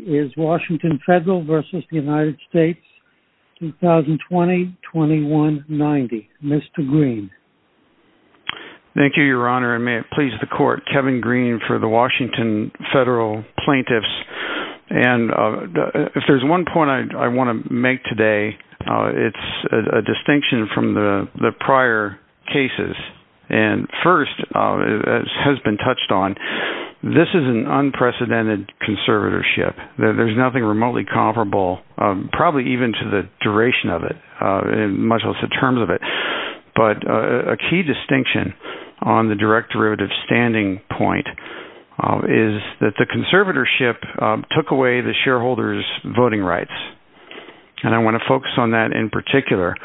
2020-2190. Mr. Green. Thank you, Your Honor, and may it please the Court, Kevin Green for the Washington Federal Plaintiffs. And if there's one point I want to make today, it's a distinction from the prior cases. And first, as has been touched on, this is an unprecedented conservatorship. There's nothing remotely comparable, probably even to the duration of it, much less the terms of it. But a key distinction on the direct derivative standing point is that the conservatorship took away the shareholders' voting rights. And I want to focus on that in particular,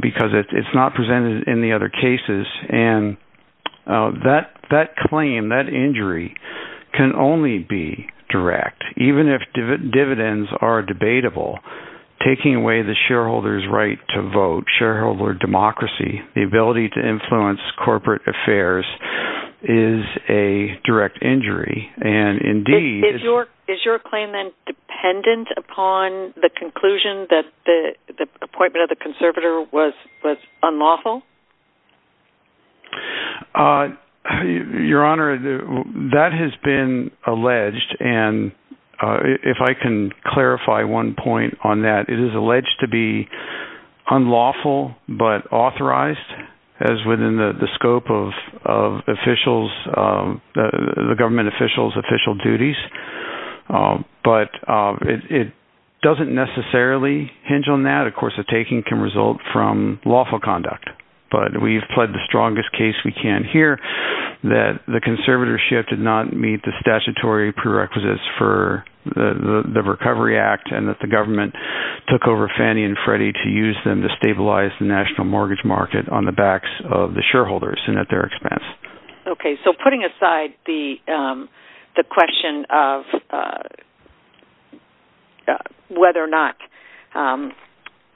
because it's not presented in the other cases. And that claim, that injury, can only be direct. Even if dividends are debatable, taking away the shareholders' right to vote, shareholder democracy, the ability to influence corporate affairs, is a direct injury. And indeed... Is your claim then dependent upon the conclusion that the appointment of the conservator was unlawful? Your Honor, that has been alleged. And if I can clarify one point on that, it is alleged to be unlawful, but authorized, as within the scope of officials, the government officials' official duties. But it doesn't necessarily hinge on that. Of course, a taking can result from lawful conduct. But we've pled the strongest case we can here, that the conservatorship did not meet the statutory prerequisites for the Recovery Act, and that the government took over Fannie and Freddie to use them to stabilize the national mortgage market on the backs of the shareholders and at their expense. Okay, so putting aside the question of whether or not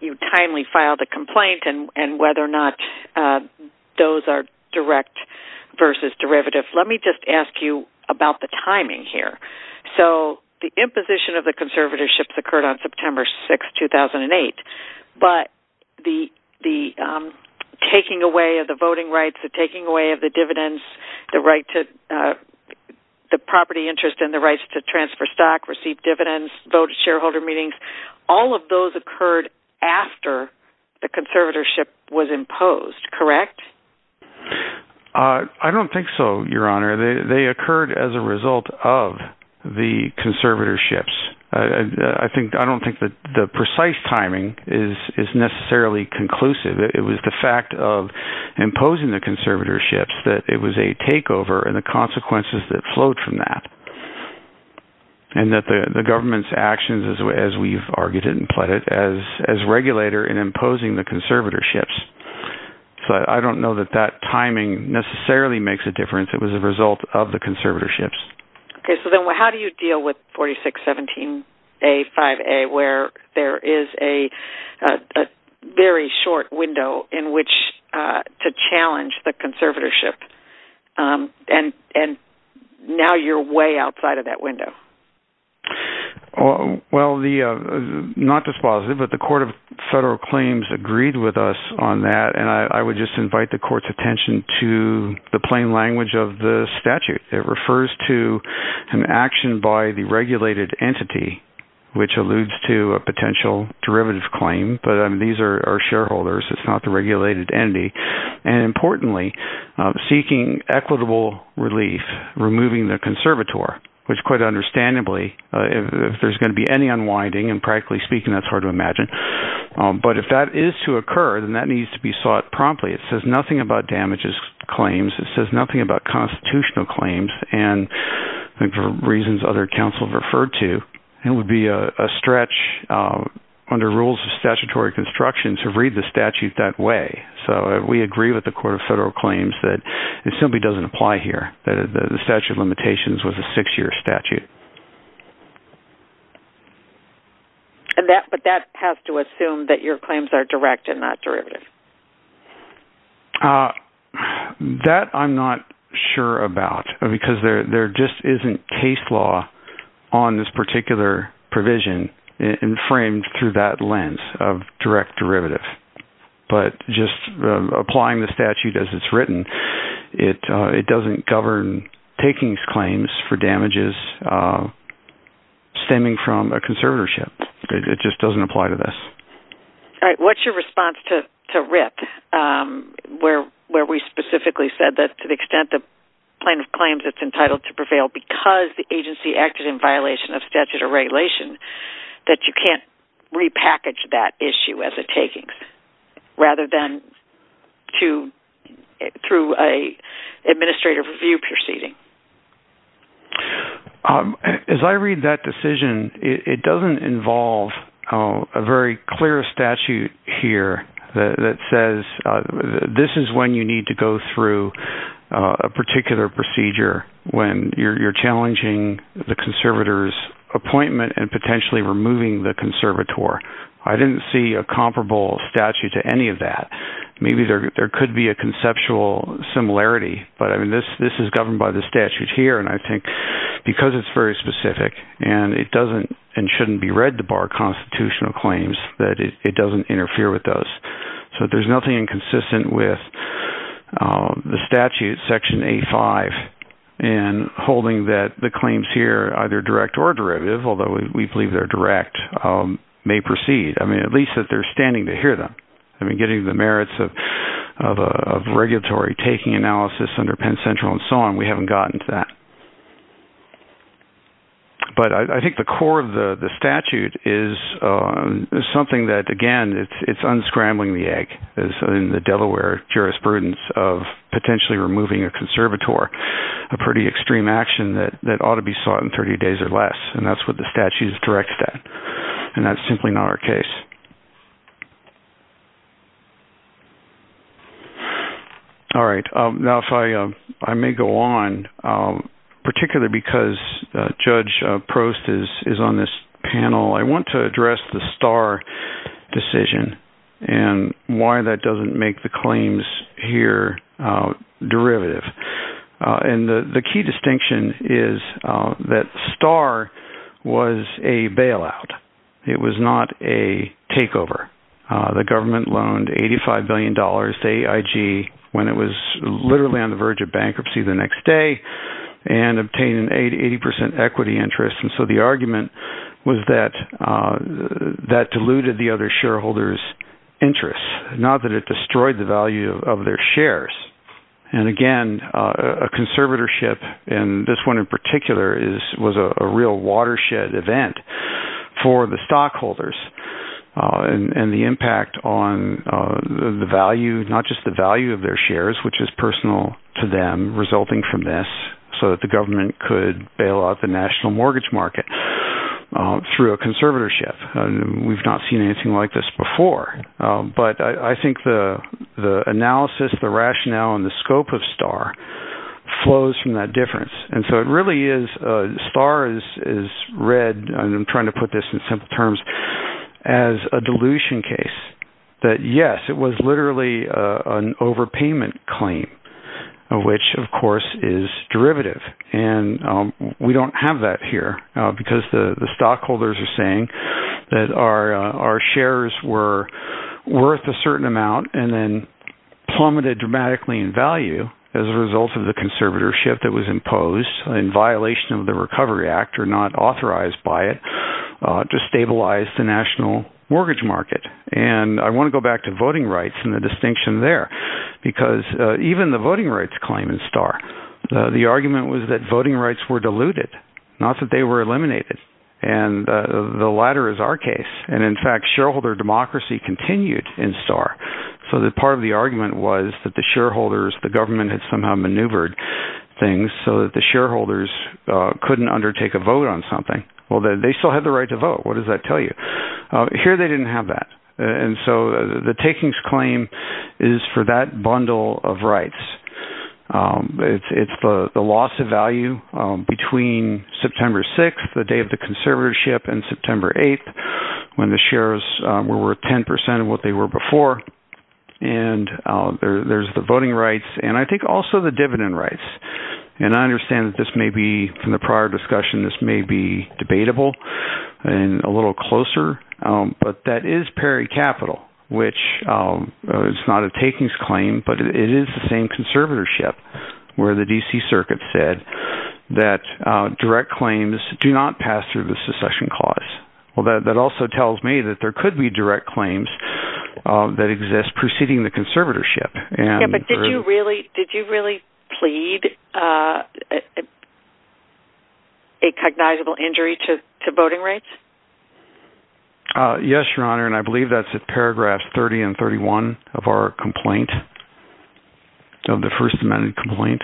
you timely filed a complaint and whether or not those are direct versus derivative, let me just ask you about the timing here. So the imposition of the conservatorship occurred on September 6, 2008. But the taking away of the voting rights, the taking away of the dividends, the property interest and the rights to transfer stock, receive dividends, vote at shareholder meetings, all of those occurred after the conservatorship was imposed, correct? I don't think so, Your Honor. They occurred as a result of the conservatorships. I don't think that the precise timing is necessarily conclusive. It was the fact of imposing the conservatorships that it was a takeover and the consequences that flowed from that. And that the government's actions, as we've Okay, so then how do you deal with 4617A, 5A, where there is a very short window in which to challenge the conservatorship? And now you're way outside of that window. Well, not just positive, but the Court of Federal Claims agreed with us on that. And I would just invite the Court's attention to the plain language of the statute. It refers to an action by the regulated entity, which alludes to a potential derivative claim. But these are shareholders, it's not the regulated entity. And importantly, seeking equitable relief, removing the conservator, which quite understandably, if there's going to be any unwinding, and practically speaking, that's hard to imagine. But if that is to occur, then that needs to be sought promptly. It says nothing about damages claims. It says nothing about constitutional claims. And for reasons other counsel have referred to, it would be a stretch under rules of statutory construction to read the statute that way. So we agree with the Court of Federal Claims that it simply doesn't apply here, that the statute of limitations was a six-year statute. And that, but that has to assume that your claims are direct and not derivative. That I'm not sure about, because there just isn't case law on this particular provision, and framed through that lens of direct derivative. But just applying the statute as it's written, it doesn't govern takings claims for damages stemming from a conservatorship. It just doesn't apply to this. All right, what's your response to RIP, where, where we specifically said that to the extent that plaintiff claims it's entitled to prevail because the agency acted in violation of statute or regulation, that you can't repackage that issue as a takings, rather than to, through a administrative review proceeding? As I read that decision, it doesn't involve a very clear statute here that says, this is when you need to go through a particular procedure when you're challenging the conservator's appointment and potentially removing the conservator. I didn't see a comparable statute to any of that. Maybe there is, but I mean, this, this is governed by the statute here. And I think because it's very specific and it doesn't, and shouldn't be read to bar constitutional claims that it doesn't interfere with those. So there's nothing inconsistent with the statute, section eight, five, and holding that the claims here, either direct or derivative, although we believe they're direct, may proceed. I mean, at least that they're standing to hear them. I mean, getting the merits of, of, of regulatory taking analysis under Penn Central and so on, we haven't gotten to that, but I think the core of the statute is, is something that again, it's, it's unscrambling the egg is in the Delaware jurisprudence of potentially removing a conservator, a pretty extreme action that, that ought to be sought in 30 days or less. And that's what the statute is directed at. And that's now, if I, I may go on particularly because judge Prost is, is on this panel. I want to address the star decision and why that doesn't make the claims here derivative. And the key distinction is that star was a bailout. It was not a takeover. The government loaned $85 billion to AIG when it was literally on the verge of bankruptcy the next day and obtained an 80, 80% equity interest. And so the argument was that that diluted the other shareholders interests, not that it destroyed the value of their shares. And again, a conservatorship and this one in particular is, was a real watershed event for the stockholders and the impact on the value, not just the value of their shares, but it was personal to them resulting from this so that the government could bail out the national mortgage market through a conservatorship. And we've not seen anything like this before. But I think the, the analysis, the rationale and the scope of star flows from that difference. And so it really is a star is, is read, and I'm trying to put this in simple terms as a which of course is derivative. And we don't have that here because the stockholders are saying that our, our shares were worth a certain amount and then plummeted dramatically in value as a result of the conservatorship that was imposed in violation of the recovery act or not authorized by it to stabilize the national mortgage market. And I want to go back to voting rights and the distinction there, because even the voting rights claim in star, the argument was that voting rights were diluted, not that they were eliminated. And the latter is our case. And in fact, shareholder democracy continued in star. So the part of the argument was that the shareholders, the government had somehow maneuvered things so that the shareholders couldn't undertake a vote on something. Well, they still had the right to vote. What does that tell you? Here, they didn't have that. And so the takings claim is for that bundle of rights. It's the loss of value between September 6, the day of the conservatorship and September 8, when the shares were worth 10% of what they were before. And there's the voting rights, and I think also the dividend rights. And I understand that this may be from the prior discussion, this may be debatable, and a little closer. But that is peri capital, which is not a takings claim, but it is the same conservatorship, where the DC Circuit said that direct claims do not pass through the succession clause. Well, that also tells me that there could be direct claims that exist preceding the conservatorship. But did you really plead a cognizable injury to voting rights? Yes, Your Honor, and I believe that's at paragraph 30 and 31 of our complaint, of the First Amendment complaint.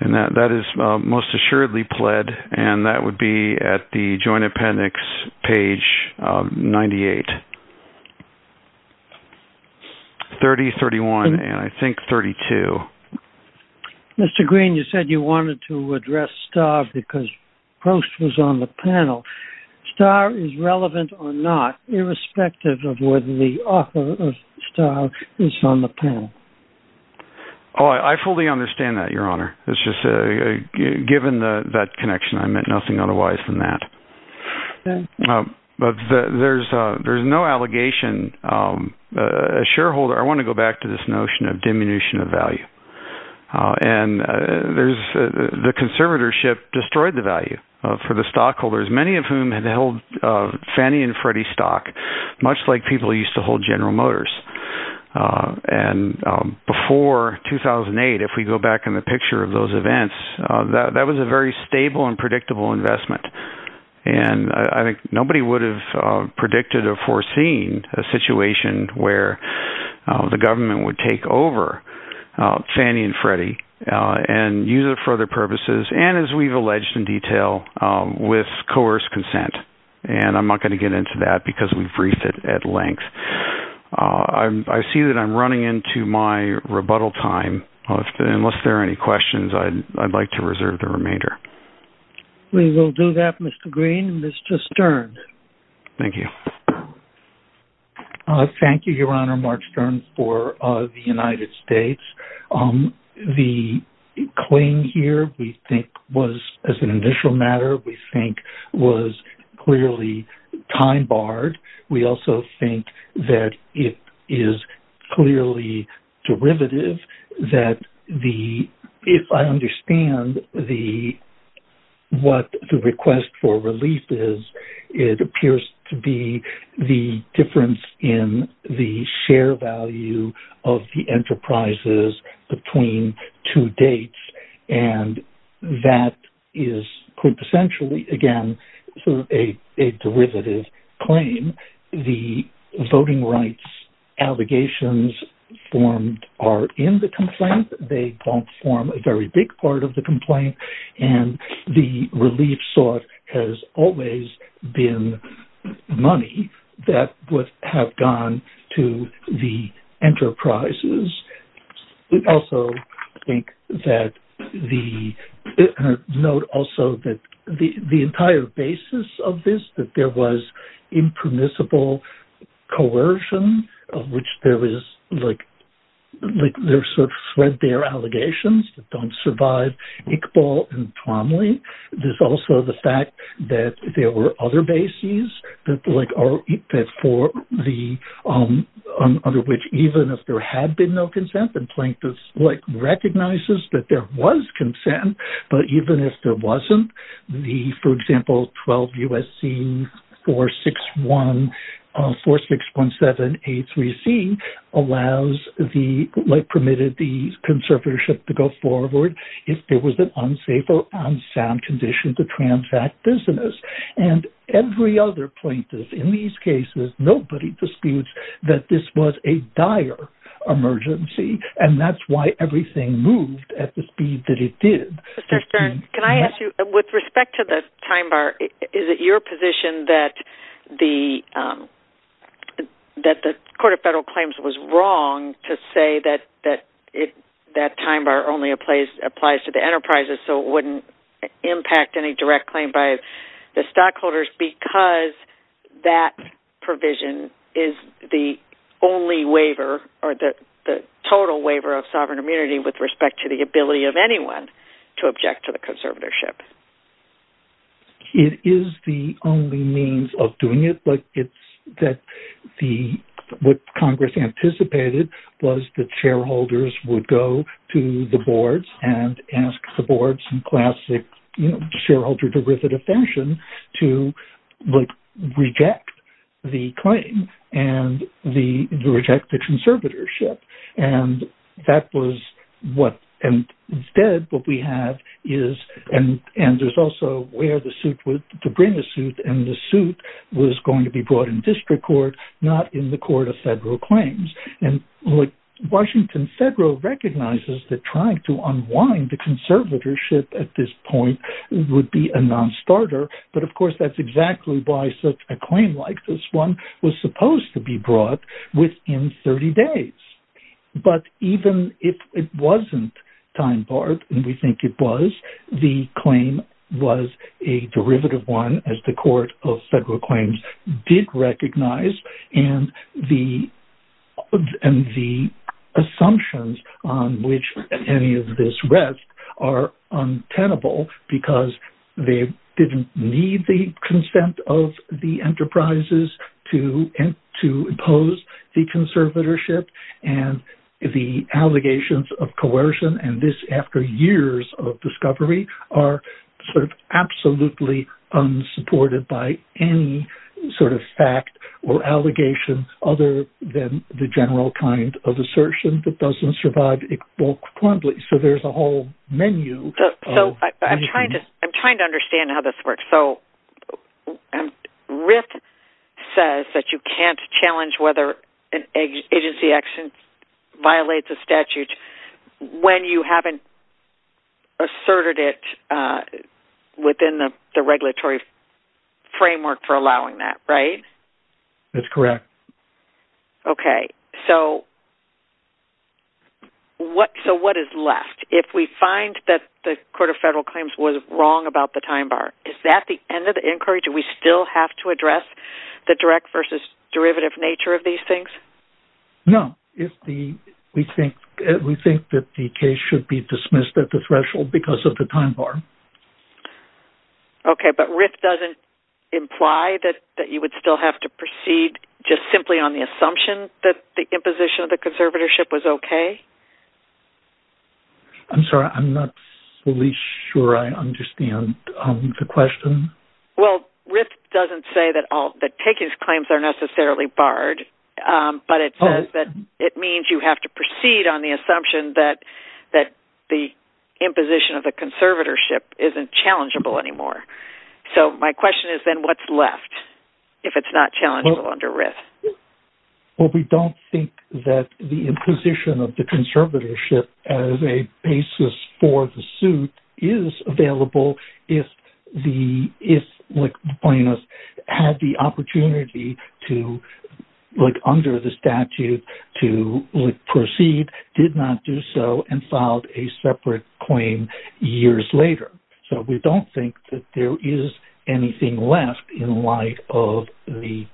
And that is most assuredly pled, and that would be at the Joint 30, 31, and I think 32. Mr. Green, you said you wanted to address Starr because Post was on the panel. Starr is relevant or not, irrespective of whether the author of Starr is on the panel. Oh, I fully understand that, Your Honor. It's just given that connection, I meant nothing I want to go back to this notion of diminution of value. And the conservatorship destroyed the value for the stockholders, many of whom had held Fannie and Freddie stock, much like people used to hold General Motors. And before 2008, if we go back in the picture of those events, that was a very stable and predictable investment. And I think nobody would have predicted or foreseen a situation where the government would take over Fannie and Freddie and use it for other purposes, and as we've alleged in detail, with coerced consent. And I'm not going to get into that because we've briefed it at length. I see that I'm running into my rebuttal time. Unless there are any questions, I'd like to reserve the remainder. We will do that, Mr. Green. Mr. Stern. Thank you. Thank you, Your Honor, Mark Stern for the United States. The claim here, we think was as an initial matter, we think was clearly time barred. We also think that it is clearly derivative that the if I understand the what the request for relief is, it appears to be the difference in the share value of the enterprises between two dates. And that is quintessentially, again, a derivative claim. The voting rights allegations formed are in the complaint. They don't form a very big part of the complaint. And the relief sought has always been money that would have gone to the enterprises. We also think that the note also that the entire basis of this, that there was impermissible coercion, of which there is like there's sort of threadbare allegations that don't survive Iqbal and Twomley, there's also the fact that there were other bases that like are that for the under which even if there had been no consent, the plaintiffs like recognizes that there was 46.783C allows the permitted the conservatorship to go forward if there was an unsafe or unsound condition to transact business. And every other plaintiff in these cases, nobody disputes that this was a dire emergency. And that's why everything moved at the speed that it did. Mr. Stern, can I ask you, with respect to the time bar, is it your position that the Court of Federal Claims was wrong to say that that time bar only applies to the enterprises, so it wouldn't impact any direct claim by the stockholders because that provision is the only of sovereign immunity with respect to the ability of anyone to object to the conservatorship? It is the only means of doing it, but it's that what Congress anticipated was that shareholders would go to the boards and ask the boards in classic shareholder derivative fashion to reject the claim and to reject the conservatorship. And that was what, and instead what we have is, and there's also where the suit was to bring the suit and the suit was going to be brought in district court, not in the Court of Federal Claims. And Washington Federal recognizes that trying to buy such a claim like this one was supposed to be brought within 30 days. But even if it wasn't time barred, and we think it was, the claim was a derivative one as the Court of Federal Claims did recognize. And the assumptions on which any of this rests are untenable because they didn't need the consent of the enterprises to impose the conservatorship. And the allegations of coercion and this after years of discovery are sort of absolutely unsupported by any sort of fact or allegation other than the general kind of assertion that doesn't survive. So there's a whole menu. So I'm trying to understand how this works. So RIF says that you can't challenge whether an agency action violates a statute when you haven't asserted it within the regulatory framework for allowing that, right? That's correct. Okay. So what is left if we find that the Court of Federal Claims was wrong about the time bar? Is that the end of the inquiry? Do we still have to address the direct versus derivative nature of these things? No. We think that the case should be dismissed at the threshold because of the time bar. Okay. But RIF doesn't imply that you would still have to proceed just simply on the assumption that the imposition of the conservatorship was okay? I'm sorry. I'm not fully sure I understand the question. Well, RIF doesn't say that taking these claims are necessarily barred, but it says that it means you have to proceed on the assumption that the imposition of the conservatorship isn't challengeable anymore. So my question is then what's left if it's not challengeable under RIF? Well, we don't think that the imposition of the conservatorship as a basis for the suit is available if the plaintiffs had the opportunity to look under the statute to proceed, did not do so, and filed a separate claim years later. So we don't think that there is anything left in light of the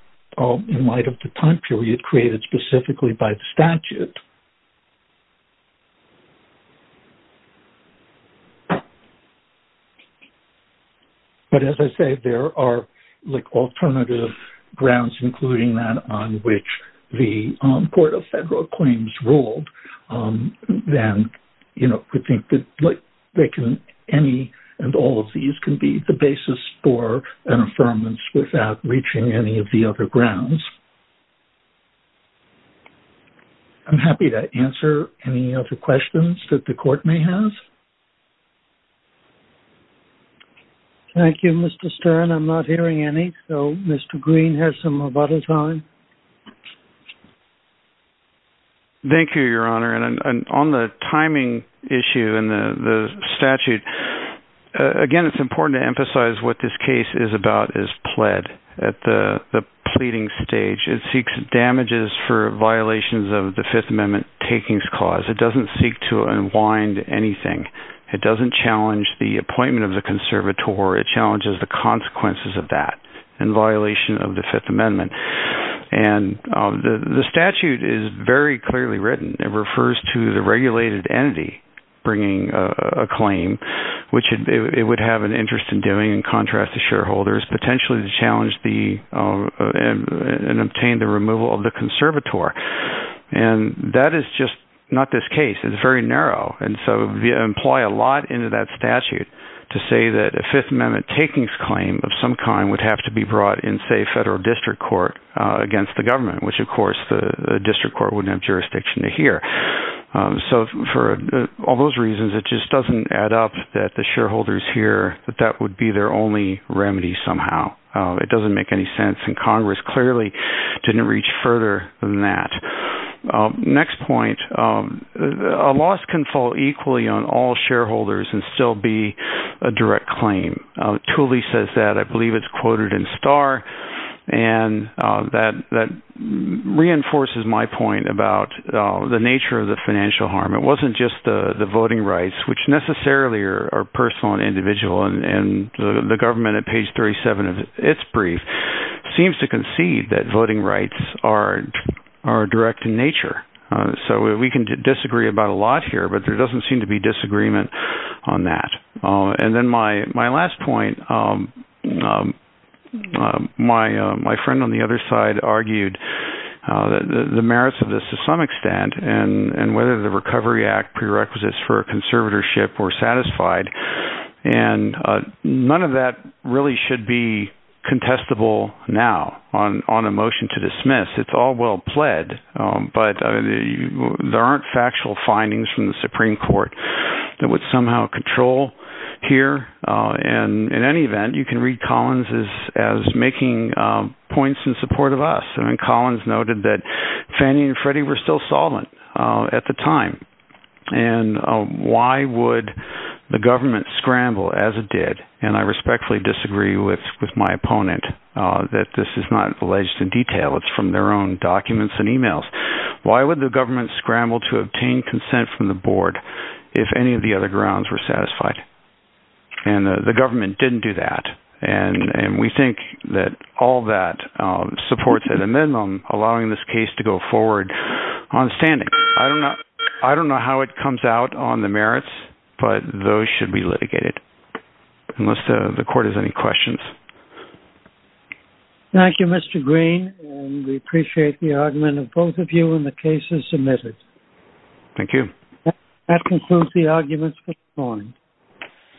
time period created specifically by the statute. But as I say, there are alternative grounds, including that on which the Court of Federal without reaching any of the other grounds. I'm happy to answer any other questions that the Court may have. Thank you, Mr. Stern. I'm not hearing any. So Mr. Green has some of other time. Thank you, Your Honor. And on the timing issue in the statute, again, it's important to emphasize what this case is about is pled at the pleading stage. It seeks damages for violations of the Fifth Amendment takings cause. It doesn't seek to unwind anything. It doesn't challenge the appointment of the conservator. It challenges the consequences of that in violation of the Fifth Amendment. And the statute is very clearly written. It refers to the regulated entity bringing a claim, which it would have an interest in doing in contrast to shareholders, potentially to challenge and obtain the removal of the conservator. And that is just not this case. It's very narrow. And so we employ a lot into that statute to say that a Fifth Amendment takings claim of some kind would have to be brought in, say, federal district court against the government, which, of course, the district court wouldn't have jurisdiction to hear. So for all those reasons, it just doesn't add up that the shareholders here, that that would be their only remedy somehow. It doesn't make any sense. And Congress clearly didn't reach further than that. Next point, a loss can fall equally on all shareholders and still be a direct claim. Tooley says that. I believe it's quoted in Star. And that reinforces my point about the nature of the financial harm. It wasn't just the voting rights, which necessarily are personal and individual. And the government at page 37 of its brief seems to concede that voting rights are direct in nature. So we can disagree about a lot here, but there doesn't seem to be disagreement on that. And then my my last point, my my friend on the other side argued the merits of this to some extent and whether the Recovery Act prerequisites for conservatorship were satisfied. And none of that really should be contestable now on on a motion to dismiss. It's all well pled. But there aren't factual findings from the Supreme Court that would somehow control here. And in any event, you can read Collins is as making points in support of us. I mean, Collins noted that Fannie and Freddie were still solid at the time. And why would the government scramble as it did? And I respectfully disagree with with my opponent, that this is not alleged in detail. It's from their own documents and emails. Why would the government scramble to obtain consent from the board if any of the other grounds were satisfied? And the government didn't do that. And we think that all that supports at a minimum, allowing this case to go forward on standing. I don't know. I don't know how it comes out on the merits, but those should be litigated. Unless the court has any questions. Thank you, Mr. Green. We appreciate the argument of both of you in the cases submitted. Thank you. That concludes the arguments.